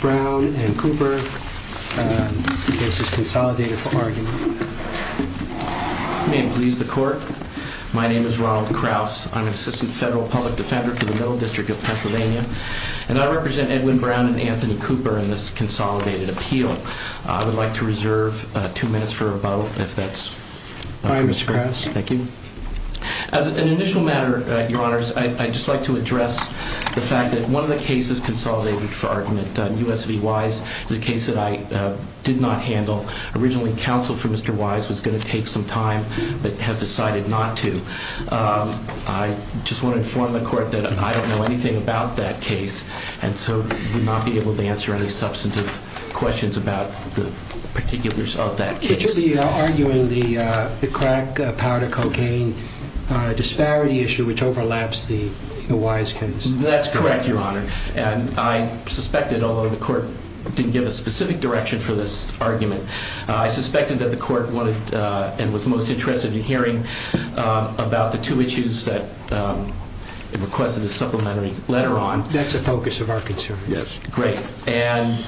Brown and Cooper. This is consolidated for argument. May it please the court, my name is Ronald Krause. I'm an assistant federal public defender for the Middle District of Pennsylvania and I represent Edwin Brown and Anthony Cooper in this consolidated appeal. I would like to reserve two minutes for a vote if that's alright Mr. Krause. Thank you. As an initial matter your honors, I'd just like to address the fact that one of the cases consolidated for argument, U.S. v. Wise, is a case that I did not handle. Originally counsel for Mr. Wise was going to take some time but has decided not to. I just want to inform the court that I don't know anything about that case and so would not be able to answer any substantive questions about the particulars of that case. You should be arguing the crack powder cocaine disparity issue which overlaps the Wise case. That's correct your honor and I suspected, although the court didn't give a specific direction for this argument, I suspected that the court wanted and was most interested in hearing about the two issues that it requested a supplementary letter on. That's the focus of our concerns. Great. And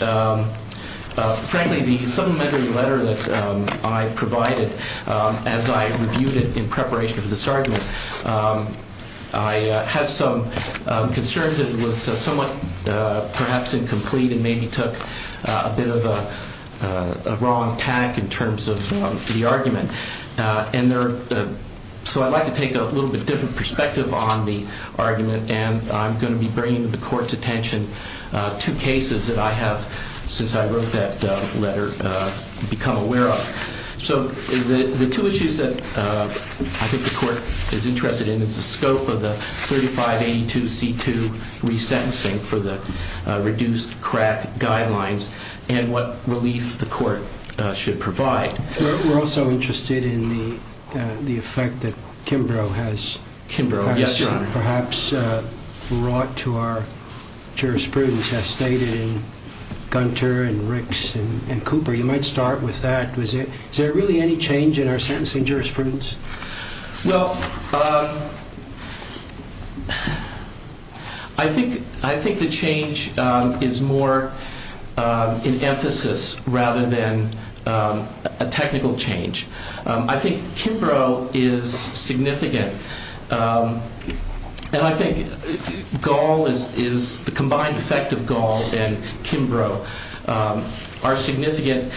frankly the supplementary letter that I provided as I reviewed it in preparation for this argument, I had some concerns that it was somewhat perhaps incomplete and maybe took a bit of a wrong tack in terms of the argument. So I'd like to take a little bit of perspective on the argument and I'm going to be bringing to the court's attention two cases that I have, since I wrote that letter, become aware of. So the two issues that I think the court is interested in is the scope of the 3582C2 resentencing for the reduced crack guidelines and what relief the court should provide. We're also interested in the effect that Kimbrough has perhaps brought to our jurisprudence as stated in Gunter and Ricks and Cooper. You might start with that. Is there really any change in our sentencing jurisprudence? Well, I think the change is more in emphasis rather than a technical change. I think Kimbrough is significant and I think Gaul is the combined effect of Gaul and Kimbrough are significant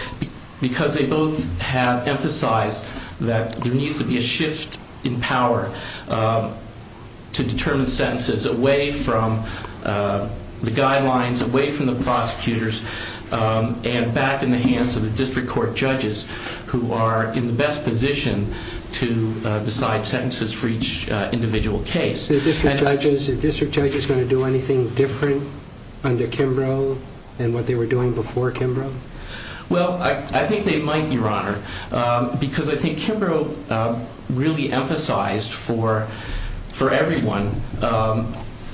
because they both have emphasized that there needs to be a shift in power to determine sentences away from the guidelines, away from the prosecutors and back in the hands of the district court judges who are in the best position to decide sentences for each individual case. The district judge is going to do anything different under Kimbrough than what they were doing before Kimbrough? Well, I think they might, Your Honor, because I think Kimbrough really emphasized for everyone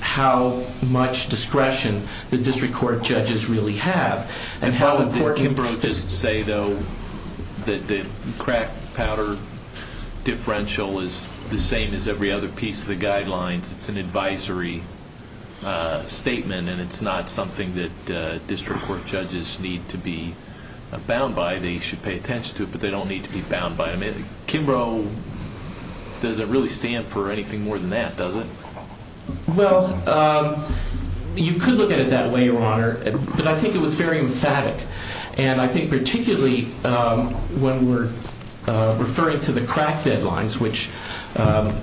how much discretion the district court judges really have and how important Didn't Kimbrough just say, though, that the crack powder differential is the same as every other piece of the guidelines? It's an advisory statement and it's not something that district court judges need to be bound by. They should pay attention to it, but they don't need to be bound by it. I mean, Kimbrough doesn't really stand for anything more than that, does it? Well, you could look at it that way, Your Honor, but I think it was very emphatic and I think particularly when we're referring to the crack deadlines, which are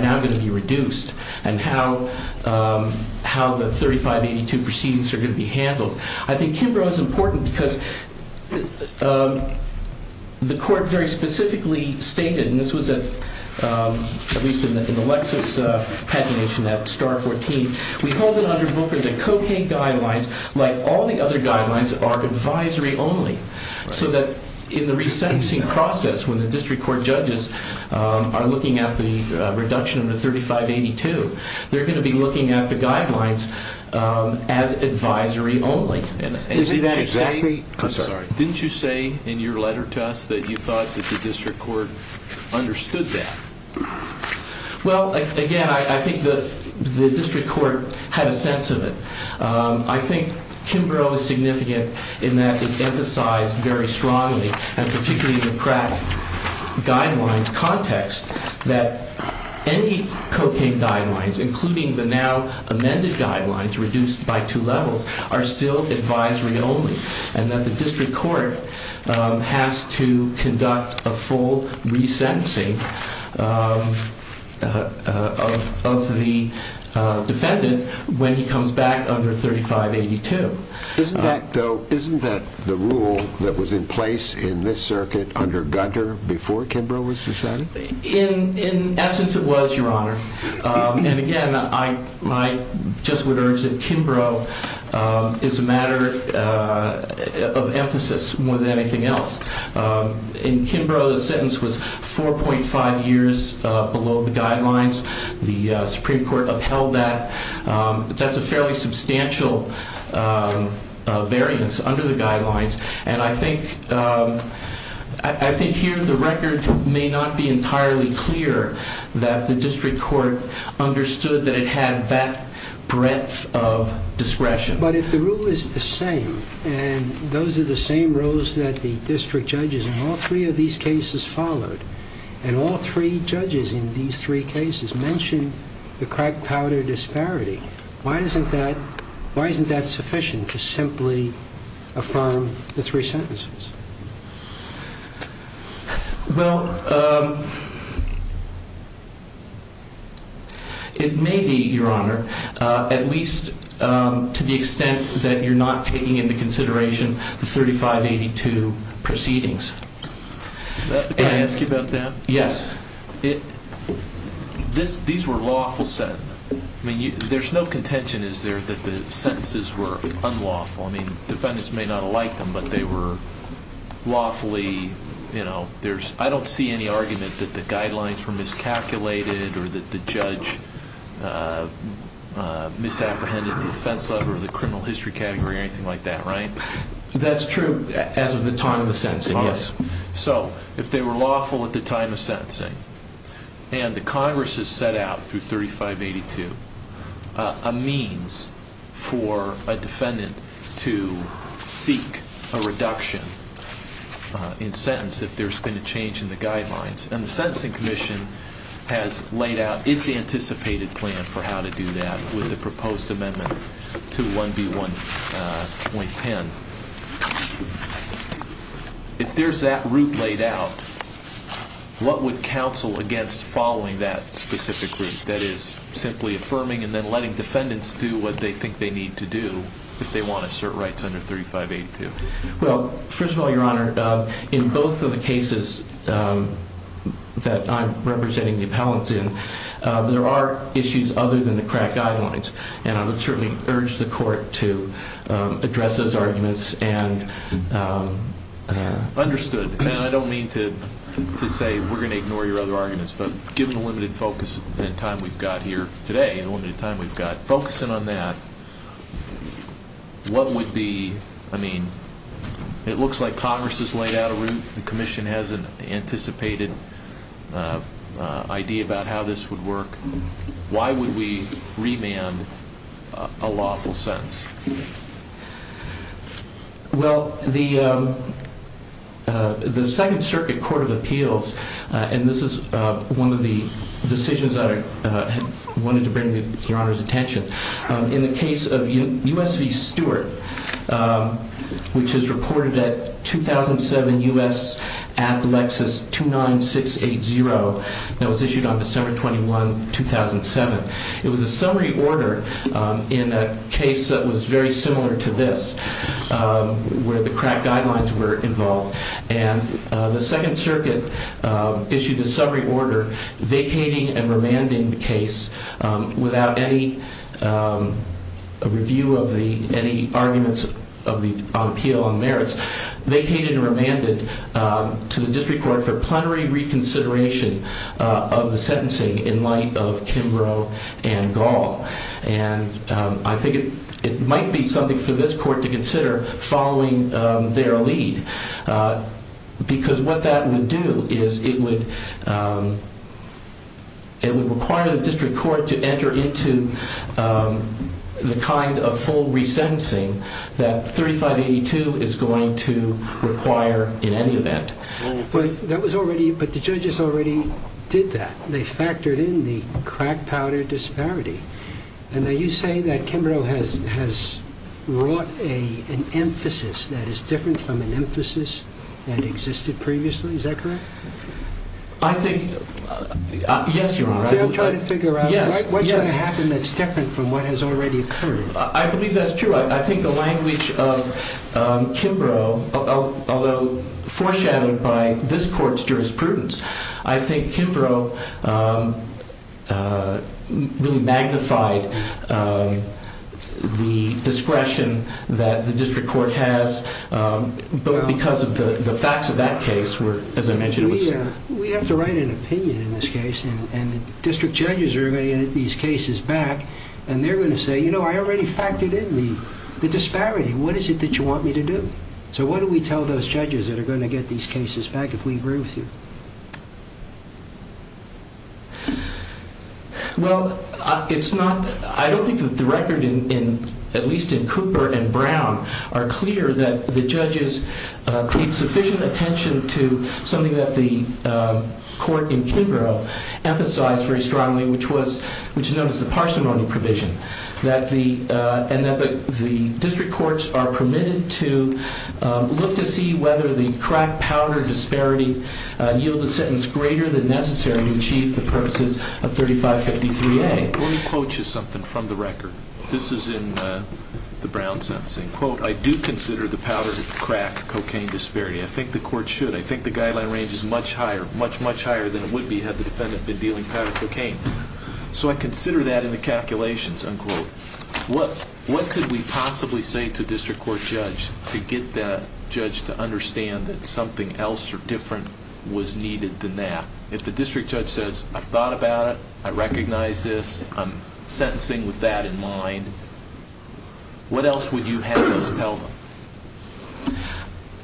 now going to be reduced, and how the 3582 proceedings are going to be handled, I think Kimbrough is important because the court very specifically stated, and this was at least in the Lexis pagination, that star 14, we hold it under Booker that cocaine guidelines, like all the other guidelines, are advisory only, so that in the resentencing process when the district court judges are looking at the reduction of the 3582, they're going to be looking at the guidelines as advisory only. Isn't that exactly... I'm sorry. Didn't you say in your letter to us that you thought that the district court understood that? Well, again, I think the district court had a sense of it. I think Kimbrough is significant in that it emphasized very strongly, and particularly in the crack guidelines context, that any cocaine guidelines, including the now amended guidelines reduced by two levels, are still advisory only, and that the district court has to conduct a full resentencing of the defendant when he comes back under 3582. Isn't that the rule that was in place in this circuit under Gunter before Kimbrough was decided? In essence, it was, Your Honor. And again, I just would urge that Kimbrough is a matter of emphasis more than anything else. In Kimbrough, the sentence was 4.5 years below the guidelines. The Supreme Court upheld that. That's a fairly substantial variance under the guidelines. And I think here the record may not be entirely clear that the district court understood that it had that breadth of discretion. But if the rule is the same, and those are the same rules that the district judges in all three of these cases followed, and all three judges in these three cases mentioned the crack powder disparity, why isn't that sufficient to simply affirm the three sentences? Well, it may be, Your Honor, at least to the extent that you're not taking into consideration the 3582 proceedings. Can I ask you about that? Yes. These were lawful sentences. I mean, there's no contention, is there, that the sentences were unlawful? I mean, defendants may not have liked them, but they were lawfully, you know, I don't see any argument that the guidelines were miscalculated or that the judge misapprehended the defense level or the criminal history category or anything like that, right? That's true as of the time of the sentencing, yes. So if they were lawful at the time of sentencing, and the Congress has set out through 3582 a means for a defendant to seek a reduction in sentence if there's been a change in the guidelines, and the Sentencing Commission has laid out its anticipated plan for how to do that with the proposed amendment to 1B1.10, if there's that route laid out, what would counsel against following that specific route, that is, simply affirming and then letting defendants do what they think they need to do if they want to assert rights under 3582? Well, first of all, Your Honor, in both of the cases that I'm representing the appellants in, there are issues other than the crack guidelines, and I would certainly urge the court to address those arguments and... Understood, and I don't mean to say we're going to ignore your other arguments, but given the limited focus and time we've got here today, the limited time we've got, focusing on that, what would be, I mean, it looks like Congress has laid out a route, the commission has an anticipated idea about how this would work. Why would we remand a lawful sentence? Well, the Second Circuit Court of Appeals, and this is one of the decisions that I wanted to bring to Your Honor's attention, in the case of U.S. v. Stewart, which is reported that 2007 U.S. Act Lexus 29680, that was issued on December 21, 2007. It was a summary order in a case that was very similar to this, where the crack guidelines were involved, and the Second Circuit issued a summary order vacating and remanding the district court for plenary reconsideration of the sentencing in light of Kimbrough and Gall. And I think it might be something for this court to consider following their lead, because what that would do is it would require the district court to enter into the kind of full leniency that the district court would have to require in any event. But that was already, but the judges already did that. They factored in the crack powder disparity. And now you say that Kimbrough has wrought an emphasis that is different from an emphasis that existed previously, is that correct? I think, yes, Your Honor. See, I'm trying to figure out what's going to happen that's different from what has already occurred. I believe that's true. I think the language of Kimbrough, although foreshadowed by this court's jurisprudence, I think Kimbrough really magnified the discretion that the district court has because of the facts of that case, as I mentioned. We have to write an opinion in this case, and the district judges are going to get these cases back if we agree with you. Well, I don't think that the record, at least in Cooper and Brown, are clear that the judges paid sufficient attention to something that the court in Kimbrough emphasized very strongly, which is known as the parsimony provision, and that the district courts are permitted to look to see whether the crack powder disparity yields a sentence greater than necessary to achieve the purposes of 3553A. Let me quote you something from the record. This is in the Brown sentencing. Quote, I do consider the powder crack cocaine disparity. I think the court should. I think the guideline range is much higher, much, much higher than it would be had the So I consider that in the calculations, unquote. What could we possibly say to a district court judge to get that judge to understand that something else or different was needed than that? If the district judge says, I've thought about it, I recognize this, I'm sentencing with that in mind, what else would you have us tell them?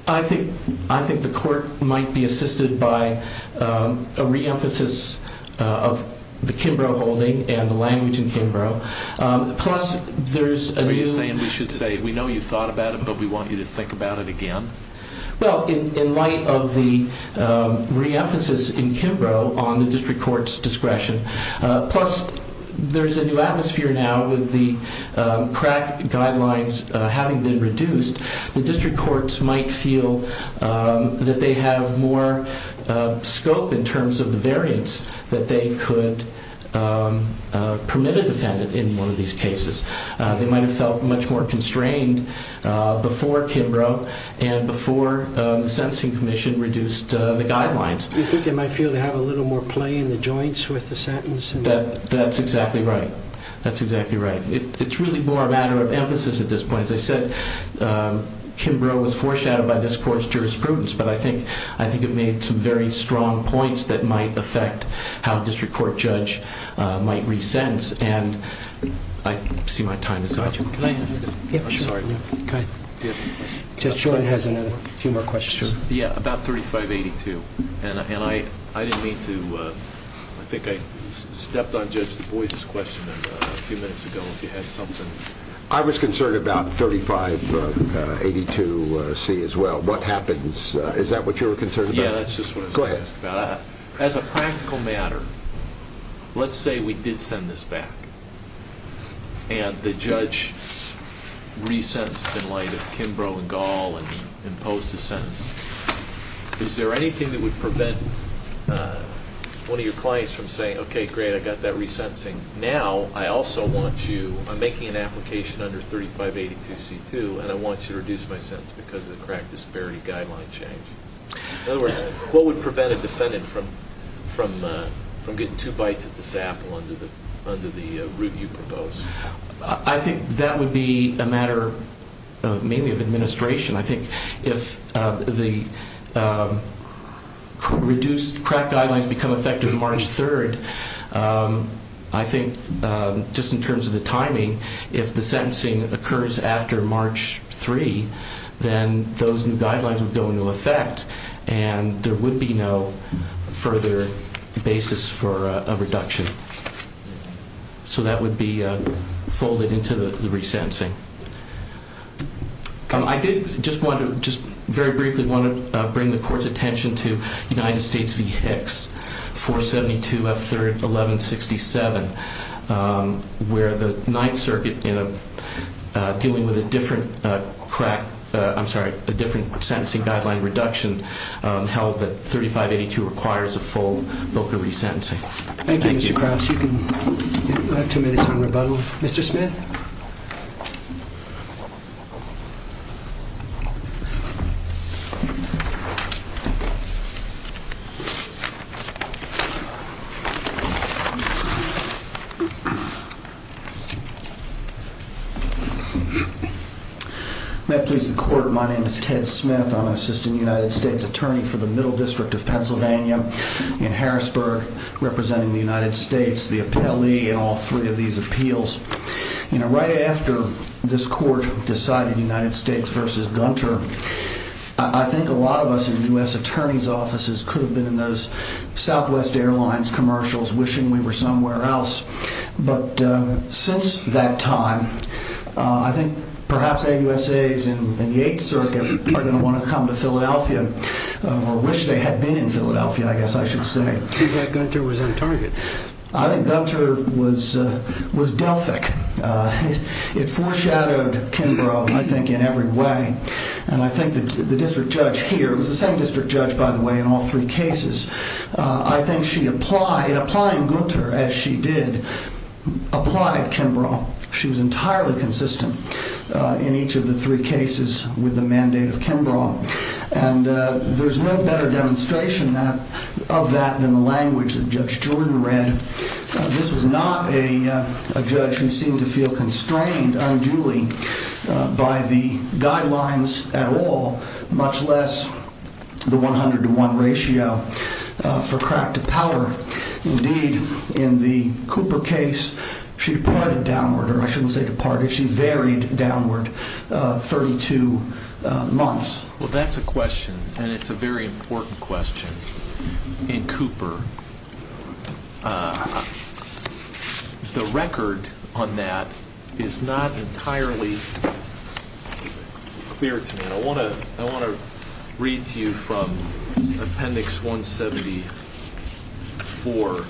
I think the court might be assisted by a reemphasis of the Kimbrough holding and the language in Kimbrough. Plus, there's a new Are you saying we should say, we know you've thought about it, but we want you to think about it again? Well, in light of the reemphasis in Kimbrough on the district court's discretion, plus there's a new atmosphere now with the crack guidelines having been reduced, the district courts might feel that they have more scope in terms of the variance that they could permit a defendant in one of these cases. They might have felt much more constrained before Kimbrough and before the sentencing commission reduced the guidelines. You think they might feel they have a little more play in the joints with the sentence? That's exactly right. That's exactly right. It's really more a matter of emphasis at this point. As I said, Kimbrough was foreshadowed by this court's jurisprudence, but I think it made some very strong points that might affect how a district court judge might re-sentence. I see my time is up. Judge Jordan has a few more questions. Yeah, about 3582. I think I stepped on Judge Du Bois' question a few minutes ago if you had something. I was concerned about 3582C as well. What happens? Is that what you were concerned about? Yeah, that's just what I was going to ask about. Go ahead. As a practical matter, let's say we did send this back and the judge re-sentenced in light of Kimbrough and Gall and imposed a sentence. Is there anything that would prevent one of your clients from saying, okay, great, I got that re-sentencing. Now, I also want you, I'm making an application under 3582C2, and I want you to reduce my sentence because of the crack disparity guideline change. In other words, what would prevent a defendant from getting two bites at the sap under the route you proposed? I think that would be a matter mainly of administration. I think if the reduced crack guidelines become effective March 3rd, I think just in terms of the timing, if the sentencing occurs after March 3, then those new guidelines would go into effect and there would be no further basis for a reduction. So that would be folded into the re-sentencing. I did just want to, just very briefly want to bring the court's attention to United States v. Hicks, 472F3-1167, where the Ninth Circuit dealing with a different crack, I'm sorry, a different sentencing guideline reduction held that 3582 requires a full VOCA re-sentencing. Thank you. Thank you, Mr. Krauss. You have two minutes on rebuttal. Mr. Smith? May it please the court, my name is Ted Smith. I'm an assistant United States attorney for the Middle District of Pennsylvania in Harrisburg. Representing the United States, the appellee in all three of these appeals. Right after this court decided United States v. Gunter, I think a lot of us in U.S. attorneys offices could have been in those Southwest Airlines commercials wishing we were somewhere else. But since that time, I think perhaps AUSAs in the Eighth Circuit are going to want to come to Philadelphia, or wish they had been in Philadelphia, I guess I should say. Seems like Gunter was on target. I think Gunter was Delphic. It foreshadowed Kimbrough, I think, in every way. And I think the district judge here, it was the same district judge, by the way, in all three cases, I think she applied, applying Gunter as she did, applied Kimbrough. She was entirely consistent in each of the three cases with the mandate of Kimbrough. And there's no better demonstration of that than the language that Judge Jordan read. This was not a judge who seemed to feel constrained unduly by the guidelines at all, much less the 100 to 1 ratio for crack to powder. Indeed, in the Cooper case, she departed downward, or I shouldn't say departed, she varied downward 32 months. Well, that's a question, and it's a very important question in Cooper. The record on that is not entirely clear to me. I want to read to you from Appendix 174,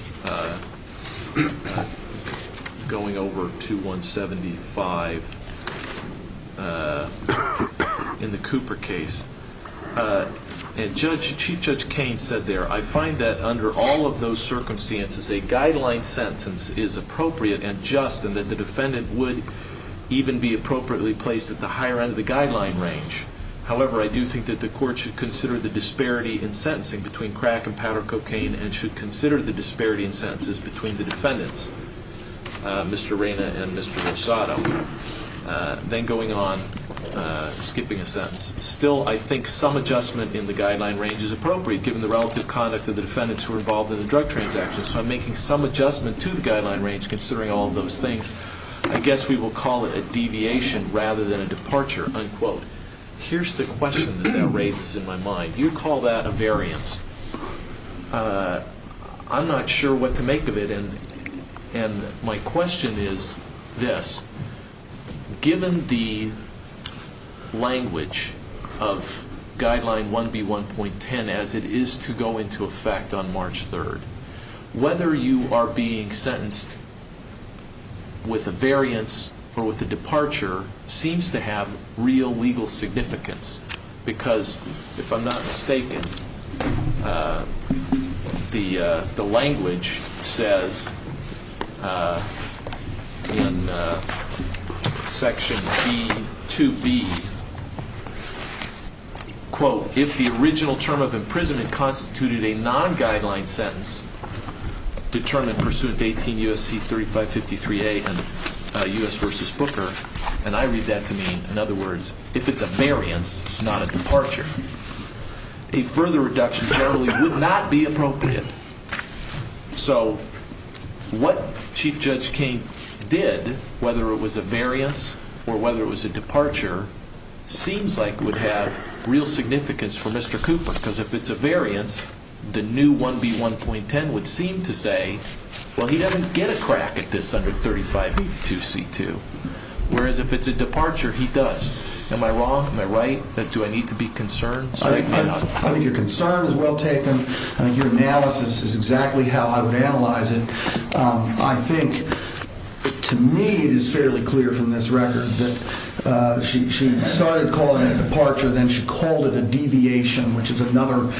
going over to 175 in the Cooper case. Chief Judge Cain said there, I find that under all of those circumstances, a guideline sentence is appropriate and just, and that the defendant would even be appropriately placed at the higher end of the guideline range. However, I do think that the court should consider the disparity in sentencing between crack and powder cocaine and should consider the disparity in sentences between the defendants, Mr. Reyna and Mr. Rosado, then going on, skipping a sentence. Still, I think some adjustment in the guideline range is appropriate, given the relative conduct of the defendants who are involved in the drug transactions. So I'm making some adjustment to the guideline range, considering all of those things. I guess we will call it a deviation rather than a departure, unquote. Here's the question that that raises in my mind. You call that a variance. I'm not sure what to make of it, and my question is this. Given the language of Guideline 1B1.10 as it is to go into effect on March 3rd, whether you are being sentenced with a variance or with a departure seems to have real legal significance because, if I'm not mistaken, the language says in Section B2B, quote, if the original term of imprisonment constituted a non-guideline sentence determined pursuant to 18 U.S.C. 3553A and U.S. v. Booker, and I read that to mean, in other words, if it's a variance, not a departure, a further reduction generally would not be appropriate. So what Chief Judge King did, whether it was a variance or whether it was a departure, seems like it would have real significance for Mr. Cooper because, if it's a variance, the new 1B1.10 would seem to say, well, he doesn't get a crack at this under 3582C2, whereas, if it's a departure, he does. Am I wrong? Am I right? Do I need to be concerned? I'm not. I think your concern is well taken. I think your analysis is exactly how I would analyze it. I think, to me, it is fairly clear from this record that she started calling it a departure, then she called it a deviation, which is another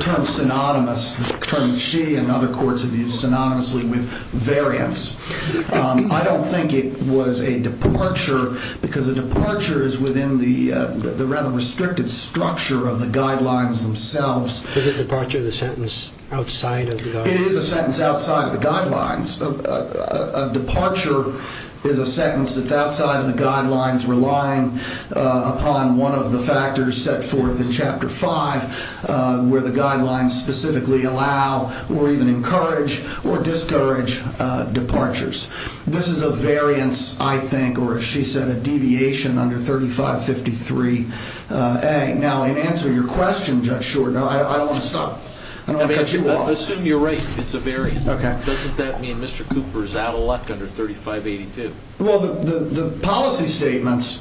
term synonymous, a term she and other courts have used synonymously with variance. I don't think it was a departure because a departure is within the rather restricted structure of the guidelines themselves. Is a departure the sentence outside of the guidelines? It is a sentence outside of the guidelines. A departure is a sentence that's outside of the guidelines, relying upon one of the factors set forth in Chapter 5, where the guidelines specifically allow or even encourage or discourage departures. This is a variance, I think, or, as she said, a deviation under 3553A. Now, in answer to your question, Judge Shorten, I don't want to stop. I don't want to cut you off. I assume you're right. It's a variance. Okay. Doesn't that mean Mr. Cooper is out-elect under 3582? Well, the policy statements,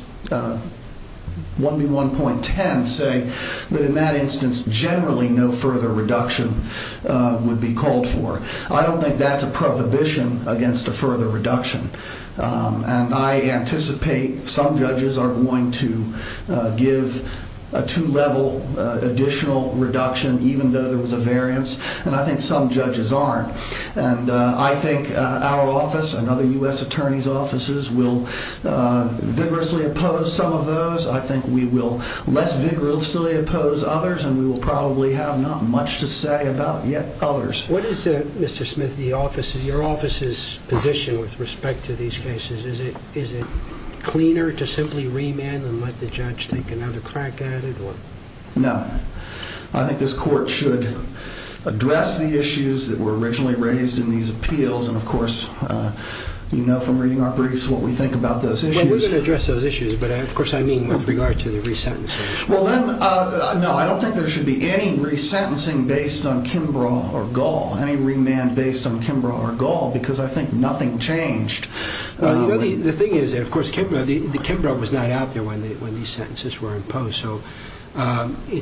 1B1.10, say that in that instance, generally, no further reduction would be called for. I don't think that's a prohibition against a further reduction. And I anticipate some judges are going to give a two-level additional reduction, even though there was a variance. And I think some judges aren't. And I think our office and other U.S. attorneys' offices will vigorously oppose some of those. I think we will less vigorously oppose others. And we will probably have not much to say about yet others. What is, Mr. Smith, your office's position with respect to these cases? Is it cleaner to simply remand and let the judge take another crack at it? No. I think this Court should address the issues that were originally raised in these appeals. And, of course, you know from reading our briefs what we think about those issues. Well, we're going to address those issues. But, of course, I mean with regard to the resentencing. Well, then, no. I don't think there should be any resentencing based on Kimbrough or Gall, any remand based on Kimbrough or Gall, because I think nothing changed. You know, the thing is that, of course, Kimbrough was not out there when these sentences were imposed. So,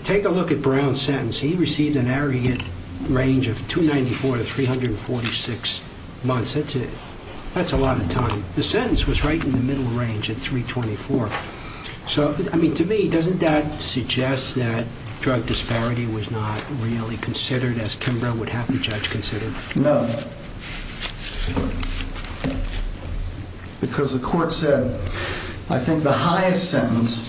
take a look at Brown's sentence. He received an aggregate range of 294 to 346 months. That's a lot of time. The sentence was right in the middle range at 324. So, I mean, to me, doesn't that suggest that drug disparity was not really considered as Kimbrough would have the judge consider? No. Because the court said, I think the highest sentence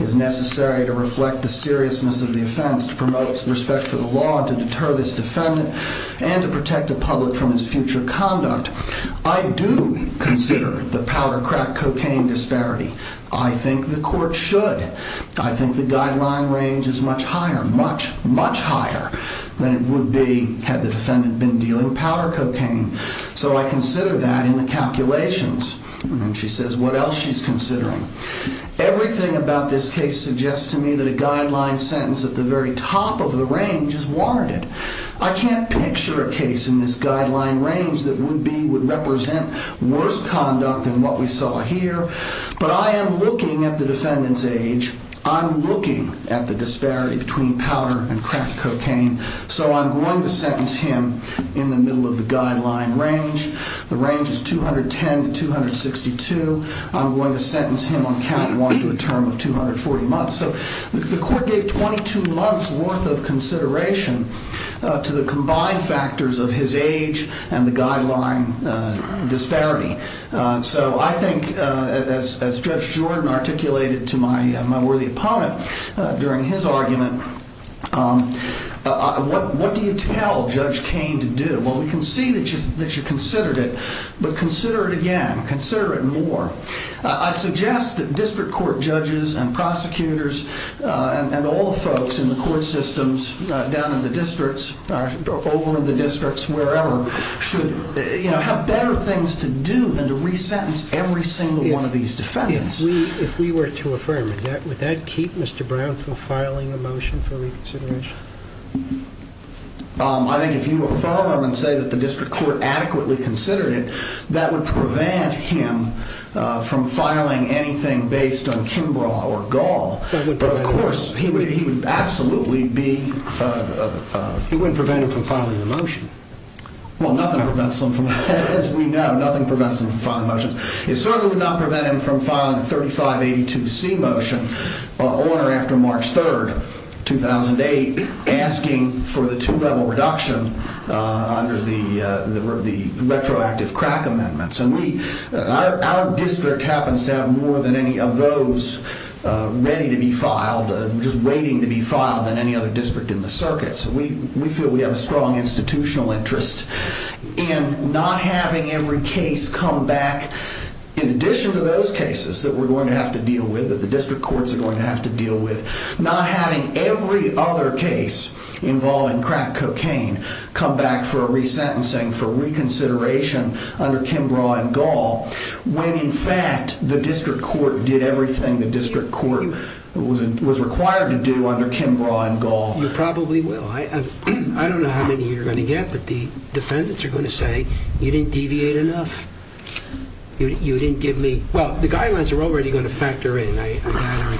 is necessary to reflect the seriousness of the offense, to promote respect for the law, to deter this defendant, and to protect the public from his future conduct. I do consider the powder crack cocaine disparity. I think the court should. I think the guideline range is much higher, much, much higher than it would be had the So, I consider that in the calculations. And she says, what else she's considering? Everything about this case suggests to me that a guideline sentence at the very top of the range is warranted. I can't picture a case in this guideline range that would be, would represent worse conduct than what we saw here. But I am looking at the defendant's age. I'm looking at the disparity between powder and crack cocaine. So, I'm going to sentence him in the middle of the guideline range. The range is 210 to 262. I'm going to sentence him on count one to a term of 240 months. So, the court gave 22 months' worth of consideration to the combined factors of his age and the guideline disparity. So, I think, as Judge Jordan articulated to my worthy opponent during his argument, I What do you tell Judge Kane to do? Well, we can see that you considered it, but consider it again. Consider it more. I'd suggest that district court judges and prosecutors and all the folks in the court systems down in the districts, over in the districts, wherever, should, you know, have better things to do than to re-sentence every single one of these defendants. If we were to affirm it, would that keep Mr. Brown from filing a motion for reconsideration? I think if you affirm and say that the district court adequately considered it, that would prevent him from filing anything based on Kimbrough or Gall. But, of course, he would absolutely be... It wouldn't prevent him from filing a motion. Well, nothing prevents him from, as we know, nothing prevents him from filing motions. It certainly would not prevent him from filing a 3582C motion on or after March 3rd, 2008, asking for the two-level reduction under the retroactive crack amendments. And we... Our district happens to have more than any of those ready to be filed, just waiting to be filed, than any other district in the circuit. So we feel we have a strong institutional interest in not having every case come back, in addition to those cases that we're going to have to deal with, that the district courts are going to have to deal with, not having every other case involving crack cocaine come back for a re-sentencing, for reconsideration under Kimbrough and Gall, when, in fact, the district court did everything the district court was required to do under Kimbrough and Gall. You probably will. I don't know how many you're going to get, but the defendants are going to say, you didn't deviate enough. You didn't give me... Well, the guidelines are already going to factor in a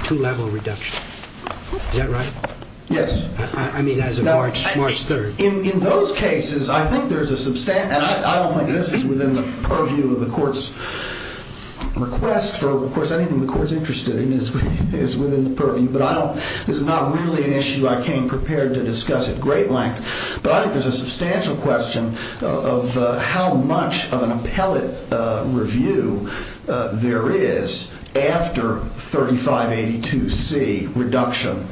two-level reduction. Is that right? Yes. I mean, as of March 3rd. In those cases, I think there's a substantial... And I don't think this is within the purview of the court's request. Of course, anything the court's interested in is within the purview. But I don't... This is not really an issue I came prepared to discuss at great length. But I think there's a substantial question of how much of an appellate review there is after 3582C reduction,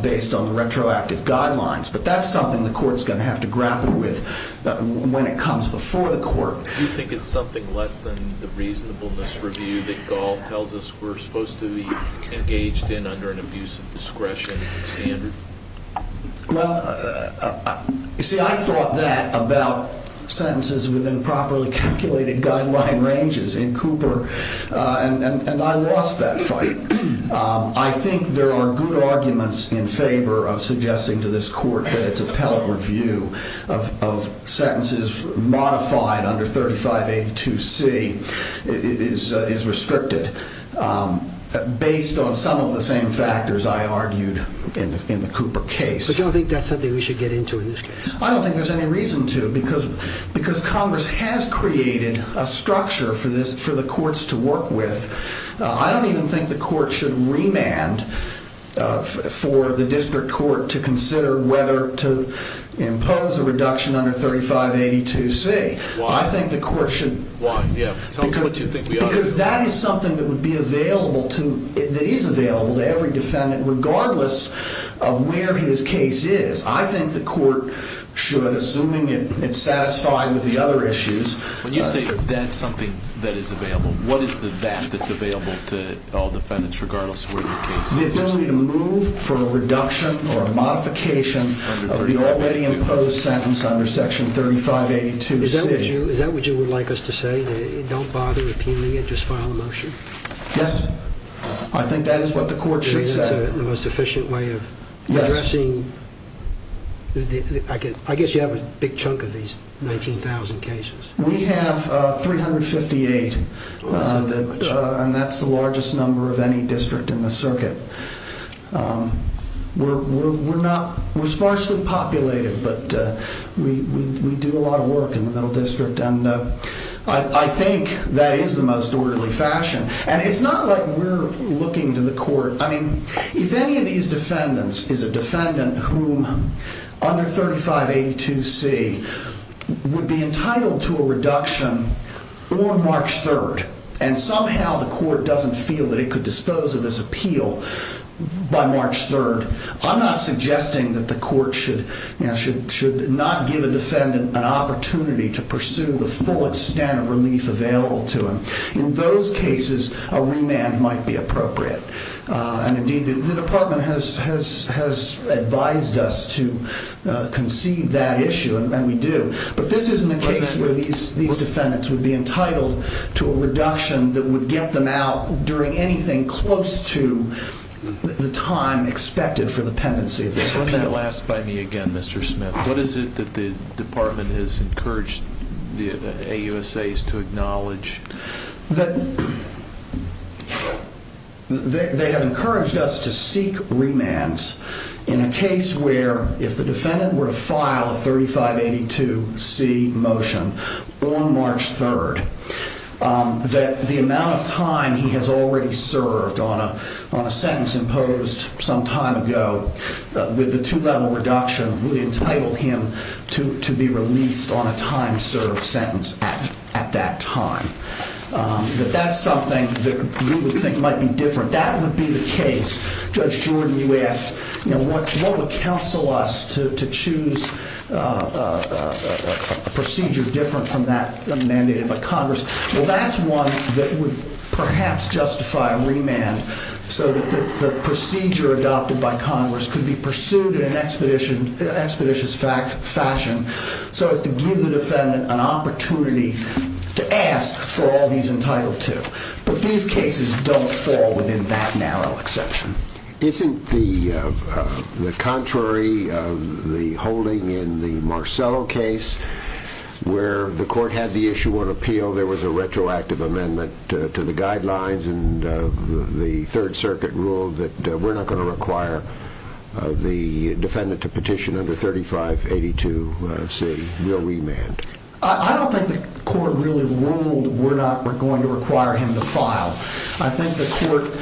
based on the retroactive guidelines. But that's something the court's going to have to grapple with when it comes before the court. Do you think it's something less than the reasonableness review that Gall tells us we're supposed to be engaged in under an abuse of discretion standard? Well, you see, I thought that about sentences within properly calculated guideline ranges in Cooper, and I lost that fight. I think there are good arguments in favor of suggesting to this court that its appellate review of sentences modified under 3582C is restricted, based on some of the same factors I argued in the Cooper case. But you don't think that's something we should get into in this case? I don't think there's any reason to, because Congress has created a structure for the courts to work with. I don't even think the court should remand for the district court to consider whether to impose a reduction under 3582C. Why? I think the court should. Why? Tell me what you think we ought to do. Because that is something that is available to every defendant, regardless of where his case is. I think the court should, assuming it's satisfied with the other issues. When you say that's something that is available, what is the that that's available to all defendants, regardless of where their case is? The ability to move for a reduction or a modification of the already imposed sentence under section 3582C. Is that what you would like us to say? Don't bother appealing it, just file a motion? Yes. I think that is what the court should say. I guess you have a big chunk of these 19,000 cases. We have 358, and that's the largest number of any district in the circuit. We're sparsely populated, but we do a lot of work in the Middle District, and I think that is the most orderly fashion. And it's not like we're looking to the court. I mean, if any of these defendants is a defendant whom under 3582C would be entitled to a reduction on March 3rd, and somehow the court doesn't feel that it could dispose of this appeal by March 3rd, I'm not suggesting that the court should not give a defendant an opportunity to pursue the full extent of relief available to him. In those cases, a remand might be appropriate. And indeed, the department has advised us to concede that issue, and we do. But this isn't a case where these defendants would be entitled to a reduction that would get them out during anything close to the time expected for the pendency of this appeal. Wouldn't that last by me again, Mr. Smith? What is it that the department has encouraged the AUSAs to acknowledge? They have encouraged us to seek remands in a case where if the defendant were to file a 3582C motion on March 3rd, that the amount of time he has already served on a sentence imposed some time ago with the two-level reduction would entitle him to be released on a time-served sentence at that time. But that's something that we would think might be different. That would be the case. Judge Jordan, you asked what would counsel us to choose a procedure different from that mandated by Congress. Well, that's one that would perhaps justify a remand so that the procedure adopted by Congress could be pursued in an expeditious fashion so as to give the defendant an opportunity to ask for all he's entitled to. But these cases don't fall within that narrow exception. Isn't the contrary of the holding in the Marcello case where the court had the issue on appeal, there was a retroactive amendment to the guidelines and the Third Circuit ruled that we're not going to require the defendant to petition under 3582C, no remand? I don't think the court really ruled we're not going to require him to file. I think the court,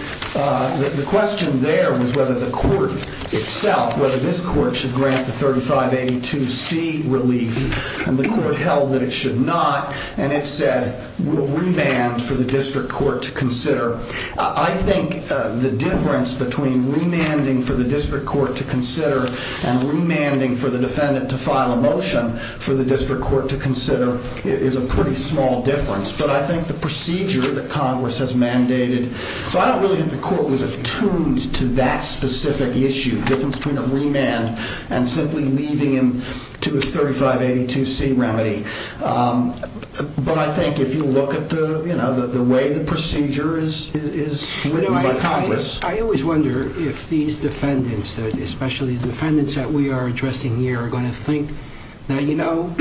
the question there was whether the court itself, whether this court should grant the 3582C relief and the court held that it should not and it said we'll remand for the district court to consider. I think the difference between remanding for the district court to consider and remanding for the defendant to file a motion for the district court to consider is a pretty small difference. But I think the procedure that Congress has mandated. So I don't really think the court was attuned to that specific issue, the difference between a remand and simply leaving him to his 3582C remedy. But I think if you look at the way the procedure is written by Congress. I always wonder if these defendants, especially the defendants that we are addressing here, are going to think, you know,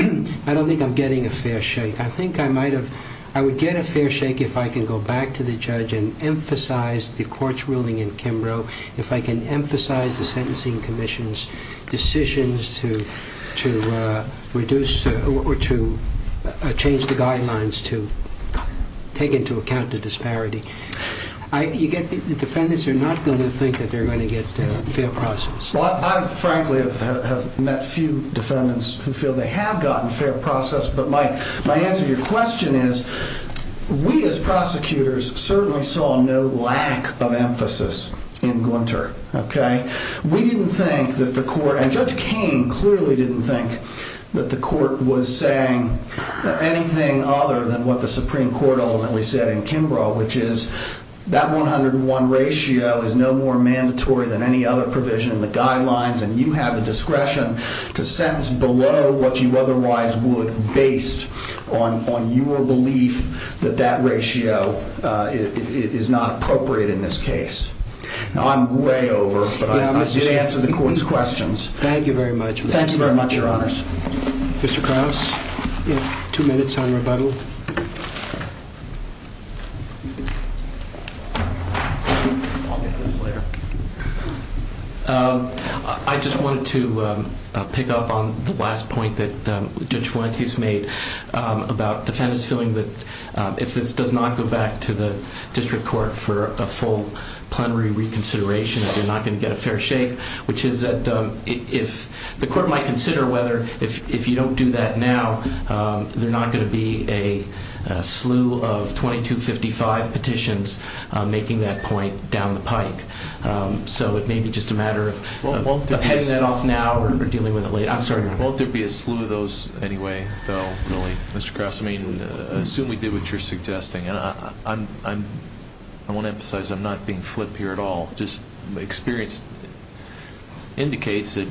I don't think I'm getting a fair shake. I think I might have, I would get a fair shake if I can go back to the judge and emphasize the court's ruling in Kimbrough, if I can emphasize the sentencing commission's decisions to reduce or to change the guidelines to take into account the disparity. The defendants are not going to think that they're going to get fair process. Well, I frankly have met few defendants who feel they have gotten fair process, but my answer to your question is we as prosecutors certainly saw no lack of emphasis in Gwinter. Okay. We didn't think that the court, and Judge Cain clearly didn't think that the court was saying anything other than what the Supreme Court ultimately said in Kimbrough, which is that 101 ratio is no more mandatory than any other provision in the guidelines. And you have the discretion to sentence below what you otherwise would based on your belief that that ratio is not appropriate in this case. Now, I'm way over, but I did answer the court's questions. Thank you very much. Thank you very much, Your Honors. Mr. Krauss, two minutes on rebuttal. I'll get this later. I just wanted to pick up on the last point that Judge Fuentes made about defendants feeling that if this does not go back to the district court for a full plenary reconsideration that they're not going to get a fair shake, which is that if the court might consider whether if you don't do that now, they're not going to be a slew of 2255 petitions making that point down the pike. So it may be just a matter of heading that off now or dealing with it later. Won't there be a slew of those anyway, though, really, Mr. Krauss? I mean, I assume we did what you're suggesting. And I want to emphasize I'm not being flipped here at all. My experience indicates that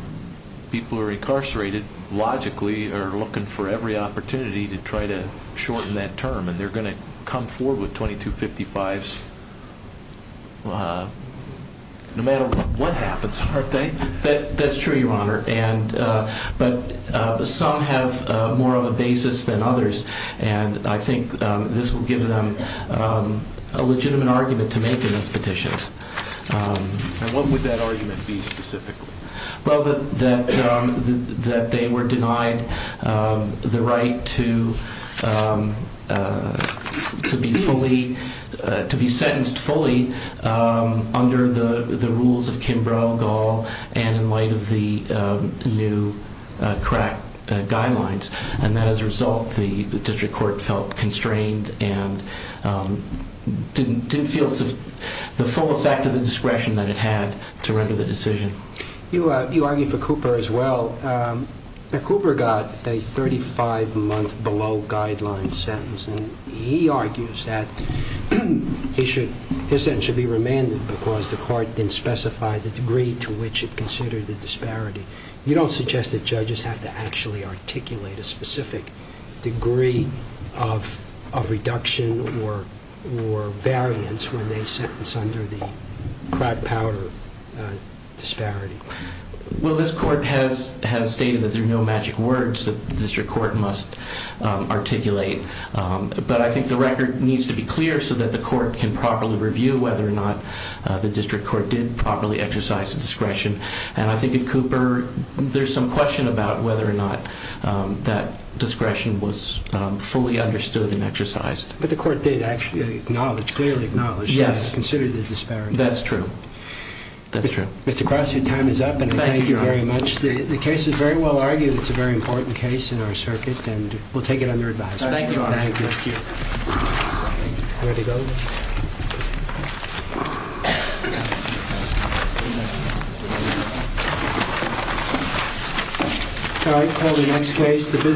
people who are incarcerated logically are looking for every opportunity to try to shorten that term, and they're going to come forward with 2255s no matter what happens, aren't they? That's true, Your Honor, but some have more of a basis than others, and I think this will give them a legitimate argument to make in those petitions. And what would that argument be specifically? Well, that they were denied the right to be sentenced fully under the rules of Kimbrough, Gall, and in light of the new crack guidelines. And that, as a result, the district court felt constrained and didn't feel the full effect of the discretion that it had to render the decision. You argue for Cooper as well. Cooper got a 35-month below guideline sentence, and he argues that his sentence should be remanded because the court didn't specify the degree to which it considered the disparity. You don't suggest that judges have to actually articulate a specific degree of reduction or variance when they sentence under the crack power disparity. Well, this court has stated that there are no magic words that the district court must articulate, but I think the record needs to be clear so that the court can properly review whether or not the district court did properly exercise the discretion. And I think at Cooper, there's some question about whether or not that discretion was fully understood and exercised. But the court did actually acknowledge, clearly acknowledge, that it considered the disparity. That's true. That's true. Mr. Cross, your time is up, and thank you very much. Thank you, Your Honor. The case is very well argued. It's a very important case in our circuit, and we'll take it under advice. Thank you, Your Honor. Thank you. Ready to go? All right. Call the next case.